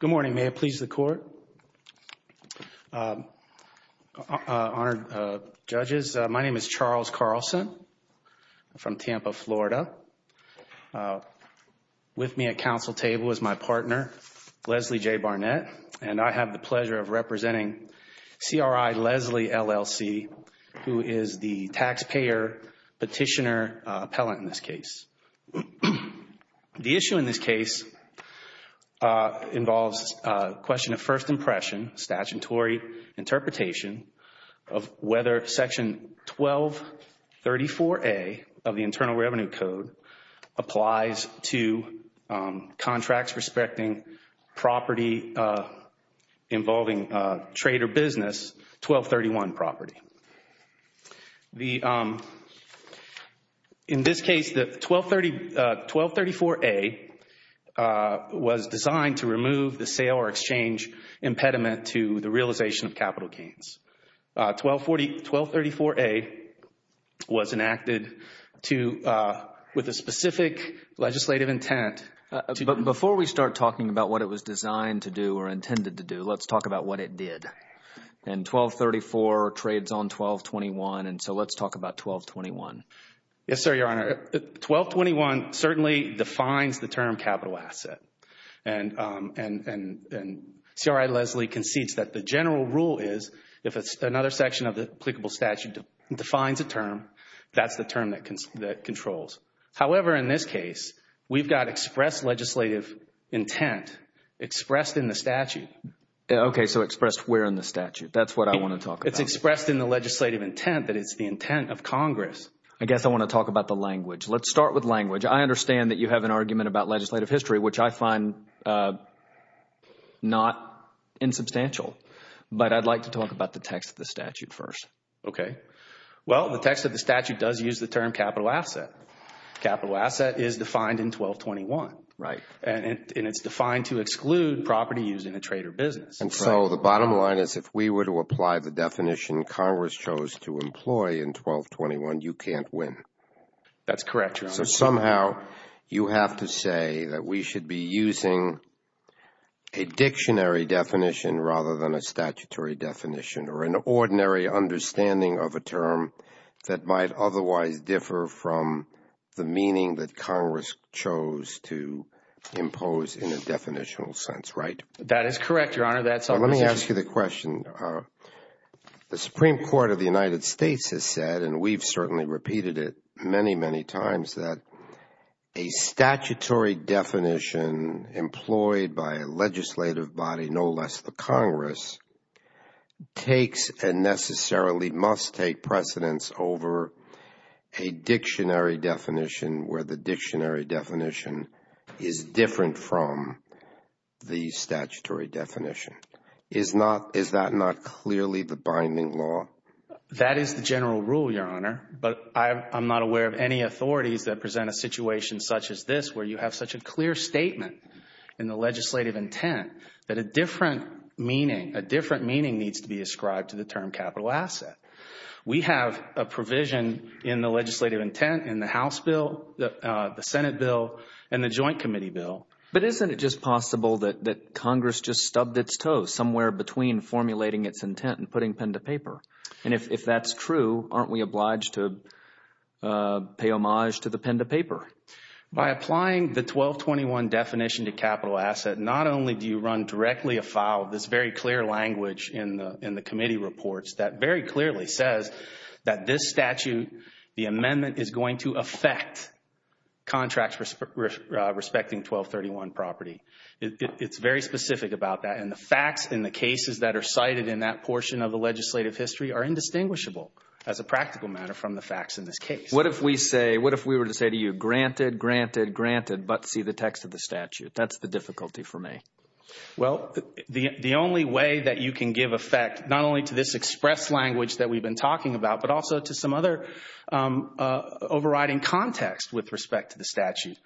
Good morning, may it please the court. Honored judges, my name is Charles Carlson. I'm from Tampa, Florida. With me at council table is my partner, Leslie J. Barnett, and I have the pleasure of representing CRI-Leslie, LLC, who is the taxpayer petitioner appellant in this case. The issue in this case involves a question of first impression, statutory interpretation, of whether Section 1234A of the Internal Revenue Code applies to contracts respecting property involving trade or business 1231 property. In this case, 1234A was designed to remove the sale or exchange impediment to the realization of capital gains. 1234A was enacted with a specific legislative intent. Before we start talking about what it was designed to do or intended to do, let's talk about what it did. And 1234 trades on 1221, and so let's talk about 1221. Yes, sir, your honor. 1221 certainly defines the term capital asset. And CRI-Leslie concedes that the general rule is if another section of the applicable statute defines a term, that's the term that controls. However, in this case, we've got express legislative intent expressed in the statute. Okay, so expressed where in the statute. That's what I want to talk about. It's expressed in the legislative intent that it's the intent of Congress. I guess I want to talk about the language. Let's start with language. I understand that you have an argument about legislative history, which I find not insubstantial. But I'd like to talk about the text of the statute first. Okay. Well, the text of the statute does use the term capital asset. Capital asset is defined in 1221. Right. And it's defined to exclude property used in a trade or business. And so the bottom line is if we were to apply the definition Congress chose to employ in 1221, you can't win. You have to say that we should be using a dictionary definition rather than a statutory definition or an ordinary understanding of a term that might otherwise differ from the meaning that Congress chose to impose in a definitional sense. Right. That is correct, Your Honor. Let me ask you the question. The Supreme Court of the United States has said, and we've certainly repeated it many, many times, that a statutory definition employed by a legislative body, no less the Congress, takes and necessarily must take precedence over a dictionary definition where the dictionary definition is different from the statutory definition. Is that not clearly the binding law? That is the general rule, Your Honor. But I'm not aware of any authorities that present a situation such as this where you have such a clear statement in the legislative intent that a different meaning needs to be ascribed to the term capital asset. We have a provision in the legislative intent in the House bill, the Senate bill, and the Joint Committee bill. But isn't it just possible that Congress just stubbed its toe somewhere between formulating its intent and putting pen to paper? And if that's true, aren't we obliged to pay homage to the pen to paper? By applying the 1221 definition to capital asset, not only do you run directly afoul of this very clear language in the committee reports that very clearly says that this statute, the amendment is going to affect contracts respecting 1231 property. It's very specific about that. And the facts in the cases that are cited in that portion of the legislative history are indistinguishable as a practical matter from the facts in this case. What if we say, what if we were to say to you, granted, granted, granted, but see the text of the statute? That's the difficulty for me. Well, the only way that you can give effect not only to this express language that we've been talking about, but also to some other overriding context with respect to the statute.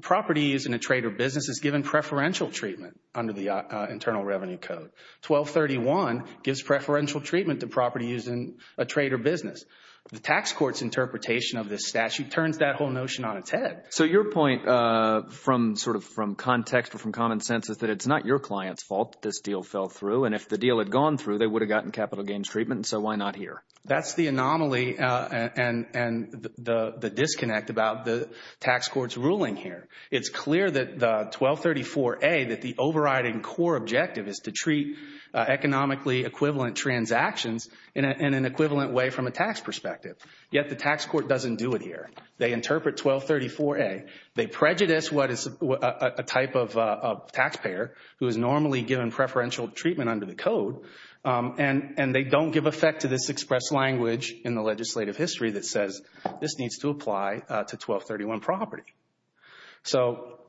Property used in a trade or business is given preferential treatment under the Internal Revenue Code. 1231 gives preferential treatment to property used in a trade or business. The tax court's interpretation of this statute turns that whole notion on its head. So your point from sort of from context or from common sense is that it's not your client's fault that this deal fell through, and if the deal had gone through, they would have gotten capital gains treatment, and so why not here? That's the anomaly and the disconnect about the tax court's ruling here. It's clear that the 1234A, that the overriding core objective is to treat economically equivalent transactions in an equivalent way from a tax perspective. Yet the tax court doesn't do it here. They interpret 1234A. They prejudice what is a type of taxpayer who is normally given preferential treatment under the code, and they don't give effect to this express language in the legislative history that says this needs to apply to 1231 property. So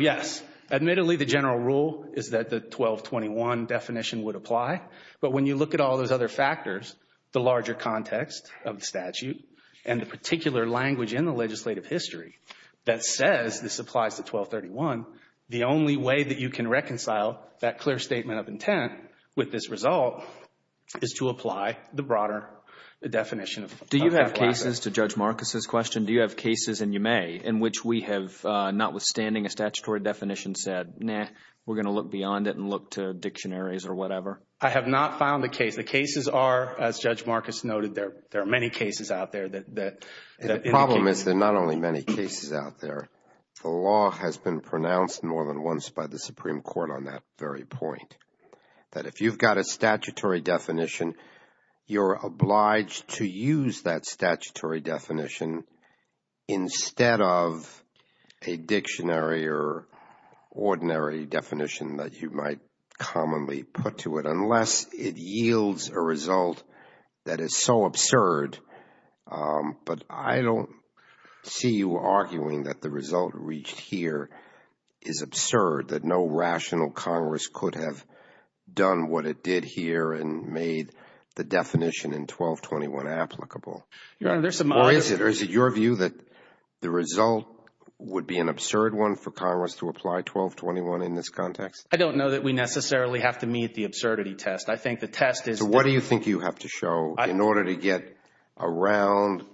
yes, admittedly, the general rule is that the 1221 definition would apply, but when you look at all those other factors, the larger context of the statute, and the particular language in the legislative history that says this applies to 1231, the only way that you can reconcile that clear statement of intent with this result is to apply the broader definition. Do you have cases, to Judge Marcus's question, do you have cases, and you may, in which we have notwithstanding a statutory definition said, nah, we're going to look beyond it and look to dictionaries or whatever? I have not found a case. The cases are, as Judge Marcus noted, there are many cases out there that indicate. The problem is there are not only many cases out there. The law has been pronounced more than once by the Supreme Court on that very point, that if you've got a statutory definition, you're obliged to use that statutory definition instead of a dictionary or ordinary definition that you might commonly put to it unless it yields a result that is so absurd. But I don't see you arguing that the result reached here is absurd, that no rational Congress could have done what it did here and made the definition in 1221 applicable. Or is it your view that the result would be an absurd one for Congress to apply 1221 in this context? I don't know that we necessarily have to meet the absurdity test. I think the test is. So what do you think you have to show in order to get around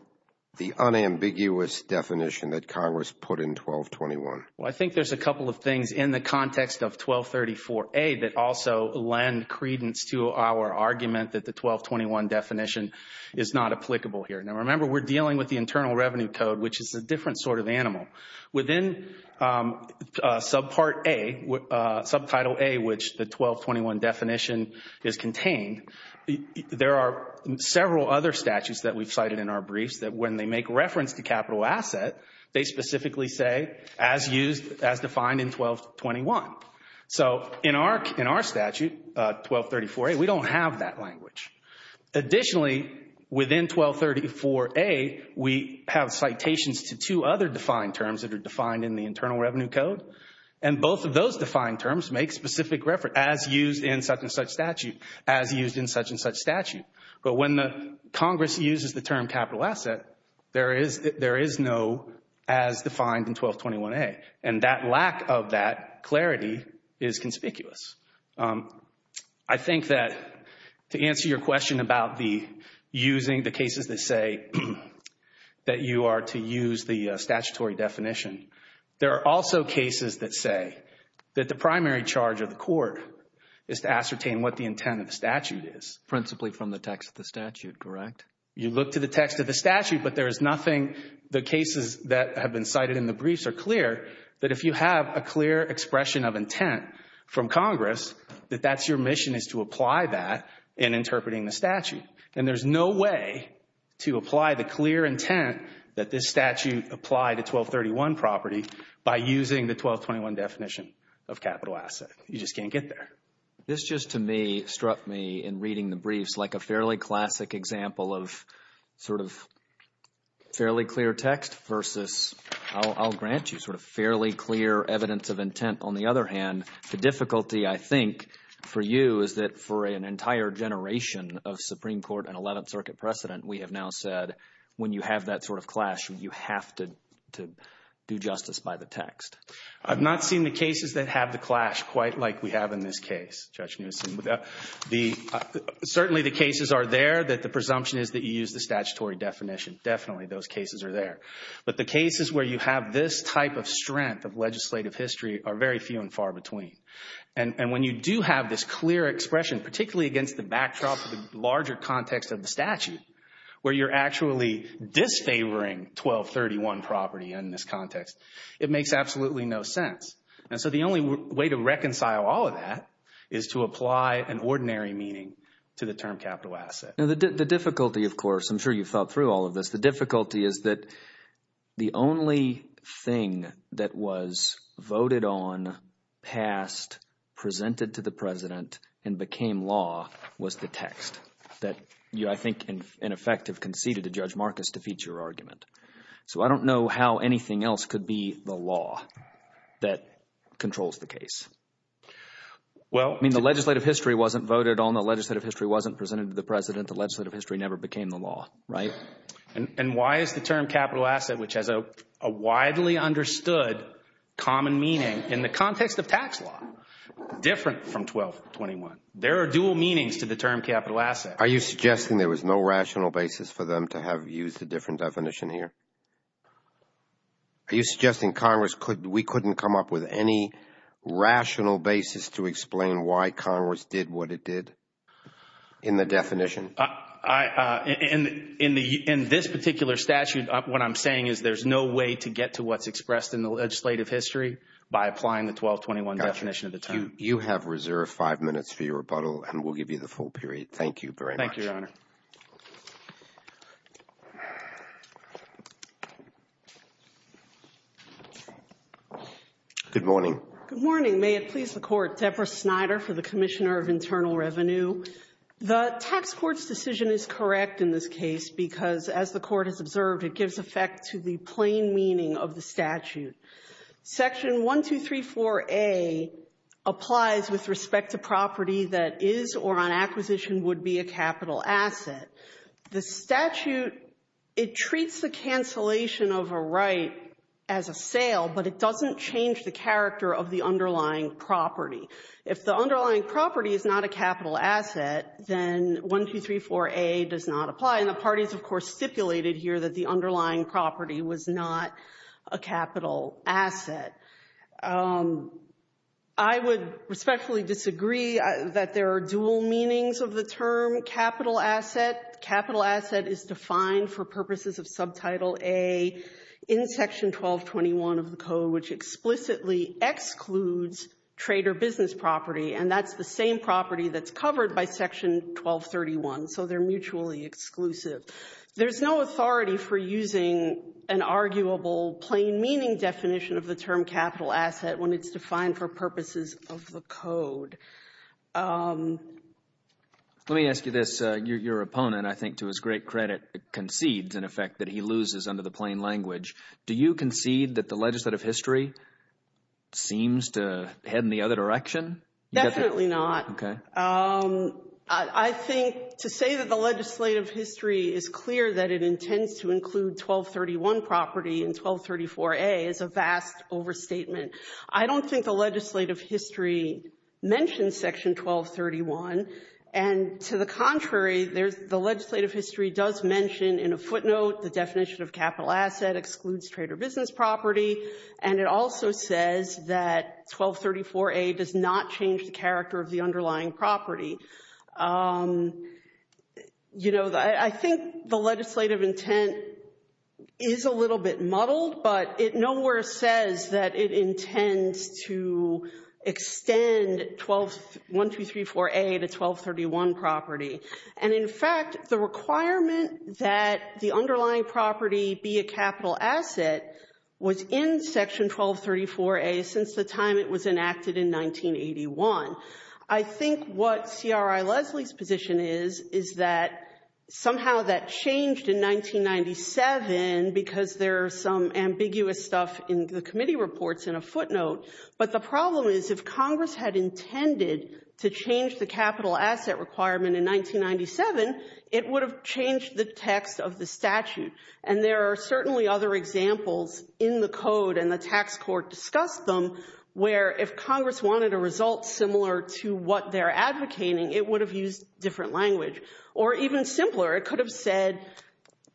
the unambiguous definition that Congress put in 1221? Well, I think there's a couple of things in the context of 1234A that also lend credence to our argument that the 1221 definition is not applicable here. Now, remember, we're dealing with the Internal Revenue Code, which is a different sort of animal. Within Subpart A, Subtitle A, which the 1221 definition is contained, there are several other statutes that we've cited in our briefs that when they make reference to capital asset, they specifically say, as used, as defined in 1221. So in our statute, 1234A, we don't have that language. Additionally, within 1234A, we have citations to two other defined terms that are defined in the Internal Revenue Code, and both of those defined terms make specific reference, as used in such and such statute, as used in such and such statute. But when Congress uses the term capital asset, there is no as defined in 1221A, and that lack of that clarity is conspicuous. I think that to answer your question about the using the cases that say that you are to use the statutory definition, there are also cases that say that the primary charge of the court is to ascertain what the intent of the statute is. Principally from the text of the statute, correct? You look to the text of the statute, but there is nothing, the cases that have been cited in the briefs are clear, that if you have a clear expression of intent from Congress, that that's your mission is to apply that in interpreting the statute. And there's no way to apply the clear intent that this statute applied to 1231 property by using the 1221 definition of capital asset. You just can't get there. This just, to me, struck me in reading the briefs like a fairly classic example of sort of fairly clear text versus, I'll grant you sort of fairly clear evidence of intent. On the other hand, the difficulty I think for you is that for an entire generation of Supreme Court and Eleventh Circuit precedent, we have now said when you have that sort of clash, you have to do justice by the text. I've not seen the cases that have the clash quite like we have in this case, Judge Newsom. Certainly the cases are there that the presumption is that you use the statutory definition. Definitely those cases are there. But the cases where you have this type of strength of legislative history are very few and far between. And when you do have this clear expression, particularly against the backdrop of the larger context of the statute, where you're actually disfavoring 1231 property in this context, it makes absolutely no sense. And so the only way to reconcile all of that is to apply an ordinary meaning to the term capital asset. The difficulty, of course, I'm sure you've thought through all of this. The difficulty is that the only thing that was voted on, passed, presented to the president and became law was the text that you, I think, in effect, have conceded to Judge Marcus to feed your argument. So I don't know how anything else could be the law that controls the case. I mean, the legislative history wasn't voted on. The legislative history wasn't presented to the president. The legislative history never became the law, right? And why is the term capital asset, which has a widely understood common meaning in the context of tax law, different from 1221? There are dual meanings to the term capital asset. Are you suggesting there was no rational basis for them to have used a different definition here? Are you suggesting Congress could – we couldn't come up with any rational basis to explain why Congress did what it did in the definition? In this particular statute, what I'm saying is there's no way to get to what's expressed in the legislative history by applying the 1221 definition of the term. You have reserved five minutes for your rebuttal, and we'll give you the full period. Thank you very much. Thank you, Your Honor. Good morning. Good morning. May it please the Court. Deborah Snyder for the Commissioner of Internal Revenue. The tax court's decision is correct in this case because, as the Court has observed, it gives effect to the plain meaning of the statute. Section 1234A applies with respect to property that is or on acquisition would be a capital asset. The statute, it treats the cancellation of a right as a sale, but it doesn't change the character of the underlying property. If the underlying property is not a capital asset, then 1234A does not apply. And the parties, of course, stipulated here that the underlying property was not a capital asset. I would respectfully disagree that there are dual meanings of the term capital asset. Capital asset is defined for purposes of Subtitle A in Section 1221 of the Code, which explicitly excludes trade or business property, and that's the same property that's covered by Section 1231, so they're mutually exclusive. There's no authority for using an arguable plain meaning definition of the term capital asset when it's defined for purposes of the Code. Let me ask you this. Your opponent, I think to his great credit, concedes, in effect, that he loses under the plain language. Do you concede that the legislative history seems to head in the other direction? Definitely not. Okay. I think to say that the legislative history is clear that it intends to include 1231 property in 1234A is a vast overstatement. I don't think the legislative history mentions Section 1231. And to the contrary, the legislative history does mention in a footnote the definition of capital asset excludes trade or business property, and it also says that 1234A does not change the character of the underlying property. You know, I think the legislative intent is a little bit muddled, but it nowhere says that it intends to extend 1234A to 1231 property. And, in fact, the requirement that the underlying property be a capital asset was in Section 1234A since the time it was enacted in 1981. I think what C.R.I. Leslie's position is is that somehow that changed in 1997 because there are some ambiguous stuff in the committee reports in a footnote. But the problem is if Congress had intended to change the capital asset requirement in 1997, it would have changed the text of the statute. And there are certainly other examples in the code and the tax court discussed them where if Congress wanted a result similar to what they're advocating, it would have used different language. Or even simpler, it could have said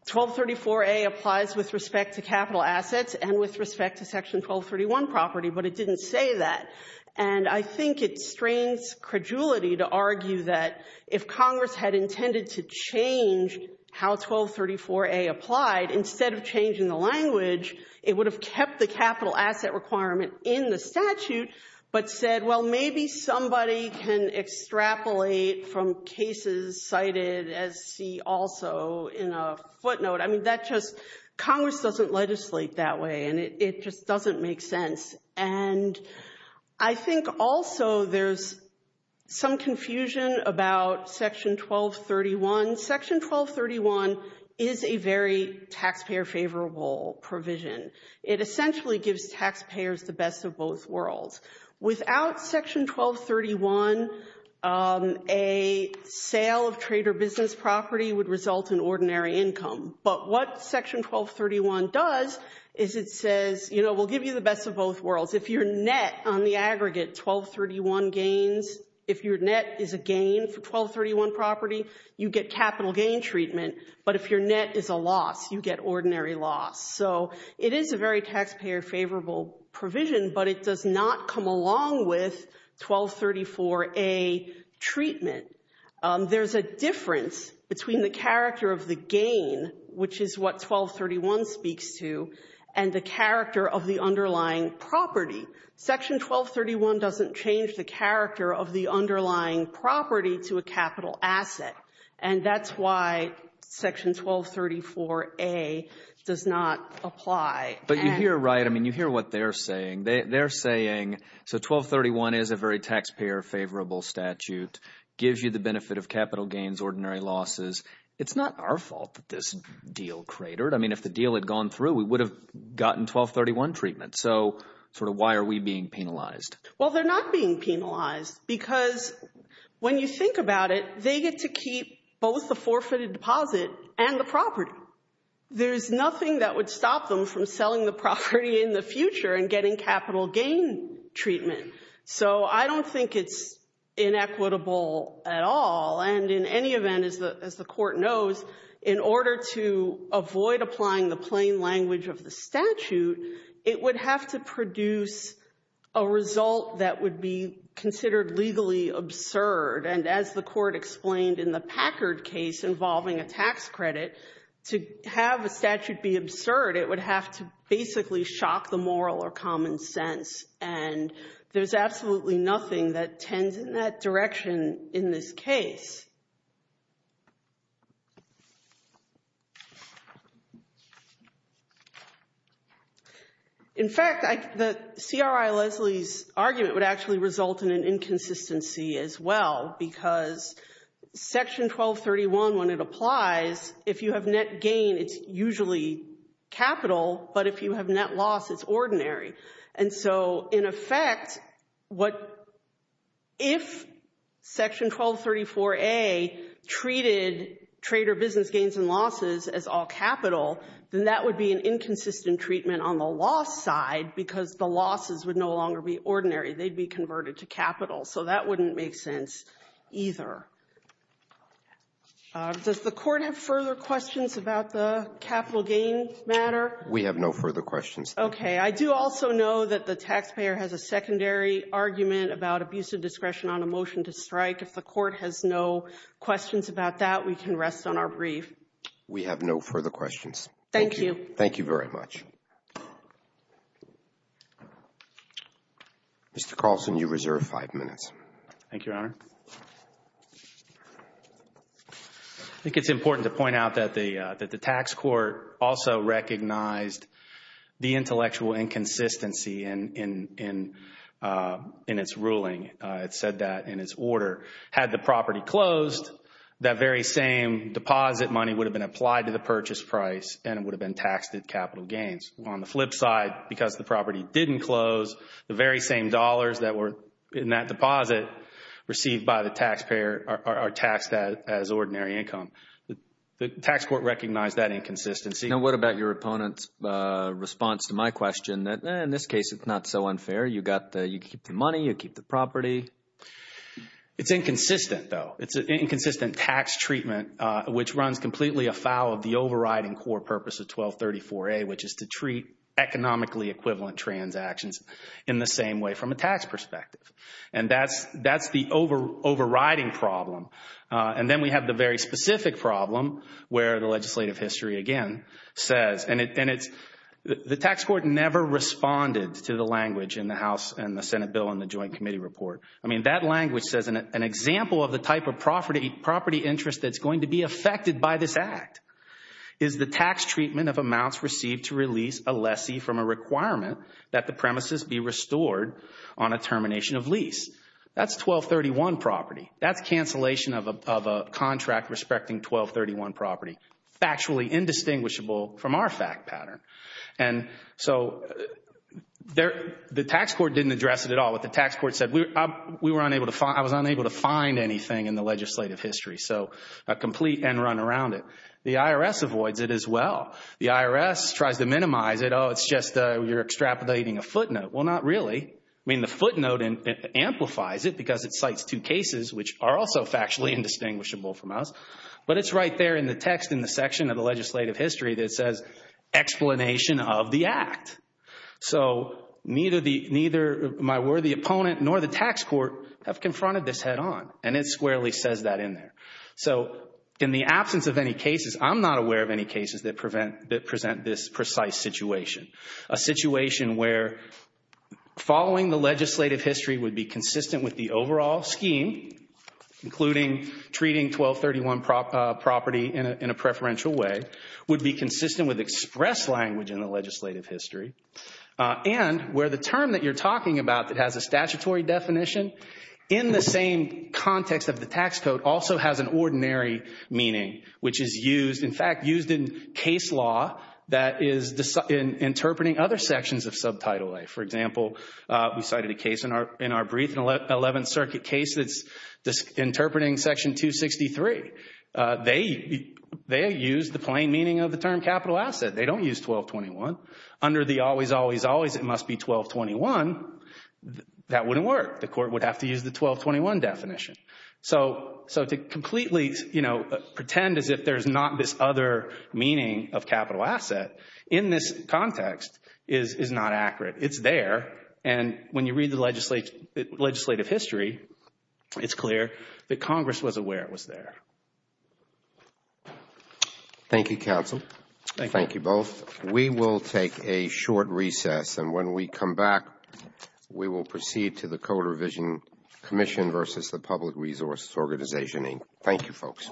1234A applies with respect to capital assets and with respect to Section 1231 property, but it didn't say that. And I think it strains credulity to argue that if Congress had intended to change how 1234A applied, instead of changing the language, it would have kept the capital asset requirement in the statute, but said, well, maybe somebody can extrapolate from cases cited as see also in a footnote. I mean, that just Congress doesn't legislate that way, and it just doesn't make sense. And I think also there's some confusion about Section 1231. Section 1231 is a very taxpayer favorable provision. It essentially gives taxpayers the best of both worlds. Without Section 1231, a sale of trade or business property would result in ordinary income. But what Section 1231 does is it says, you know, we'll give you the best of both worlds. If your net on the aggregate 1231 gains, if your net is a gain for 1231 property, you get capital gain treatment. But if your net is a loss, you get ordinary loss. So it is a very taxpayer favorable provision, but it does not come along with 1234A treatment. There's a difference between the character of the gain, which is what 1231 speaks to, and the character of the underlying property. Section 1231 doesn't change the character of the underlying property to a capital asset, and that's why Section 1234A does not apply. But you hear right, I mean, you hear what they're saying. They're saying, so 1231 is a very taxpayer favorable statute, gives you the benefit of capital gains, ordinary losses. It's not our fault that this deal cratered. I mean, if the deal had gone through, we would have gotten 1231 treatment. So sort of why are we being penalized? Well, they're not being penalized because when you think about it, they get to keep both the forfeited deposit and the property. There's nothing that would stop them from selling the property in the future and getting capital gain treatment. So I don't think it's inequitable at all. And in any event, as the court knows, in order to avoid applying the plain language of the statute, it would have to produce a result that would be considered legally absurd. And as the court explained in the Packard case involving a tax credit, to have a statute be absurd, it would have to basically shock the moral or common sense. And there's absolutely nothing that tends in that direction in this case. In fact, the CRI Leslie's argument would actually result in an inconsistency as well, because Section 1231, when it applies, if you have net gain, it's usually capital, but if you have net loss, it's ordinary. And so in effect, if Section 1234A treated trader business gains and losses as all capital, then that would be an inconsistent treatment on the loss side because the losses would no longer be ordinary. They'd be converted to capital. So that wouldn't make sense either. Does the court have further questions about the capital gain matter? We have no further questions. Okay. I do also know that the taxpayer has a secondary argument about abusive discretion on a motion to strike. If the court has no questions about that, we can rest on our brief. We have no further questions. Thank you. Thank you very much. Thank you, Your Honor. I think it's important to point out that the tax court also recognized the intellectual inconsistency in its ruling. It said that in its order. Had the property closed, that very same deposit money would have been applied to the purchase price and it would have been taxed at capital gains. On the flip side, because the property didn't close, the very same dollars that were in that deposit received by the taxpayer are taxed as ordinary income. The tax court recognized that inconsistency. Now, what about your opponent's response to my question that, in this case, it's not so unfair. You keep the money. You keep the property. It's inconsistent, though. It's an inconsistent tax treatment, which runs completely afoul of the overriding core purpose of 1234A, which is to treat economically equivalent transactions in the same way from a tax perspective. And that's the overriding problem. And then we have the very specific problem where the legislative history, again, says, and the tax court never responded to the language in the House and the Senate bill in the joint committee report. I mean, that language says an example of the type of property interest that's going to be affected by this act is the tax treatment of amounts received to release a lessee from a requirement that the premises be restored on a termination of lease. That's 1231 property. That's cancellation of a contract respecting 1231 property, factually indistinguishable from our fact pattern. And so the tax court didn't address it at all. What the tax court said, I was unable to find anything in the legislative history, so a complete end run around it. The IRS avoids it as well. The IRS tries to minimize it. Oh, it's just you're extrapolating a footnote. Well, not really. I mean, the footnote amplifies it because it cites two cases which are also factually indistinguishable from us. But it's right there in the text in the section of the legislative history that says explanation of the act. So neither my worthy opponent nor the tax court have confronted this head on, and it squarely says that in there. So in the absence of any cases, I'm not aware of any cases that present this precise situation, a situation where following the legislative history would be consistent with the overall scheme, including treating 1231 property in a preferential way, would be consistent with express language in the legislative history, and where the term that you're talking about that has a statutory definition in the same context of the tax code also has an ordinary meaning, which is used, in fact, used in case law that is interpreting other sections of Subtitle A. For example, we cited a case in our brief, an 11th Circuit case that's interpreting Section 263. They use the plain meaning of the term capital asset. They don't use 1221. Under the always, always, always, it must be 1221, that wouldn't work. The court would have to use the 1221 definition. So to completely, you know, pretend as if there's not this other meaning of capital asset in this context is not accurate. It's there, and when you read the legislative history, it's clear that Congress was aware it was there. Thank you, counsel. Thank you. Thank you both. We will take a short recess, and when we come back, we will proceed to the Code Revision Commission versus the Public Resources Organization, Inc. Thank you, folks.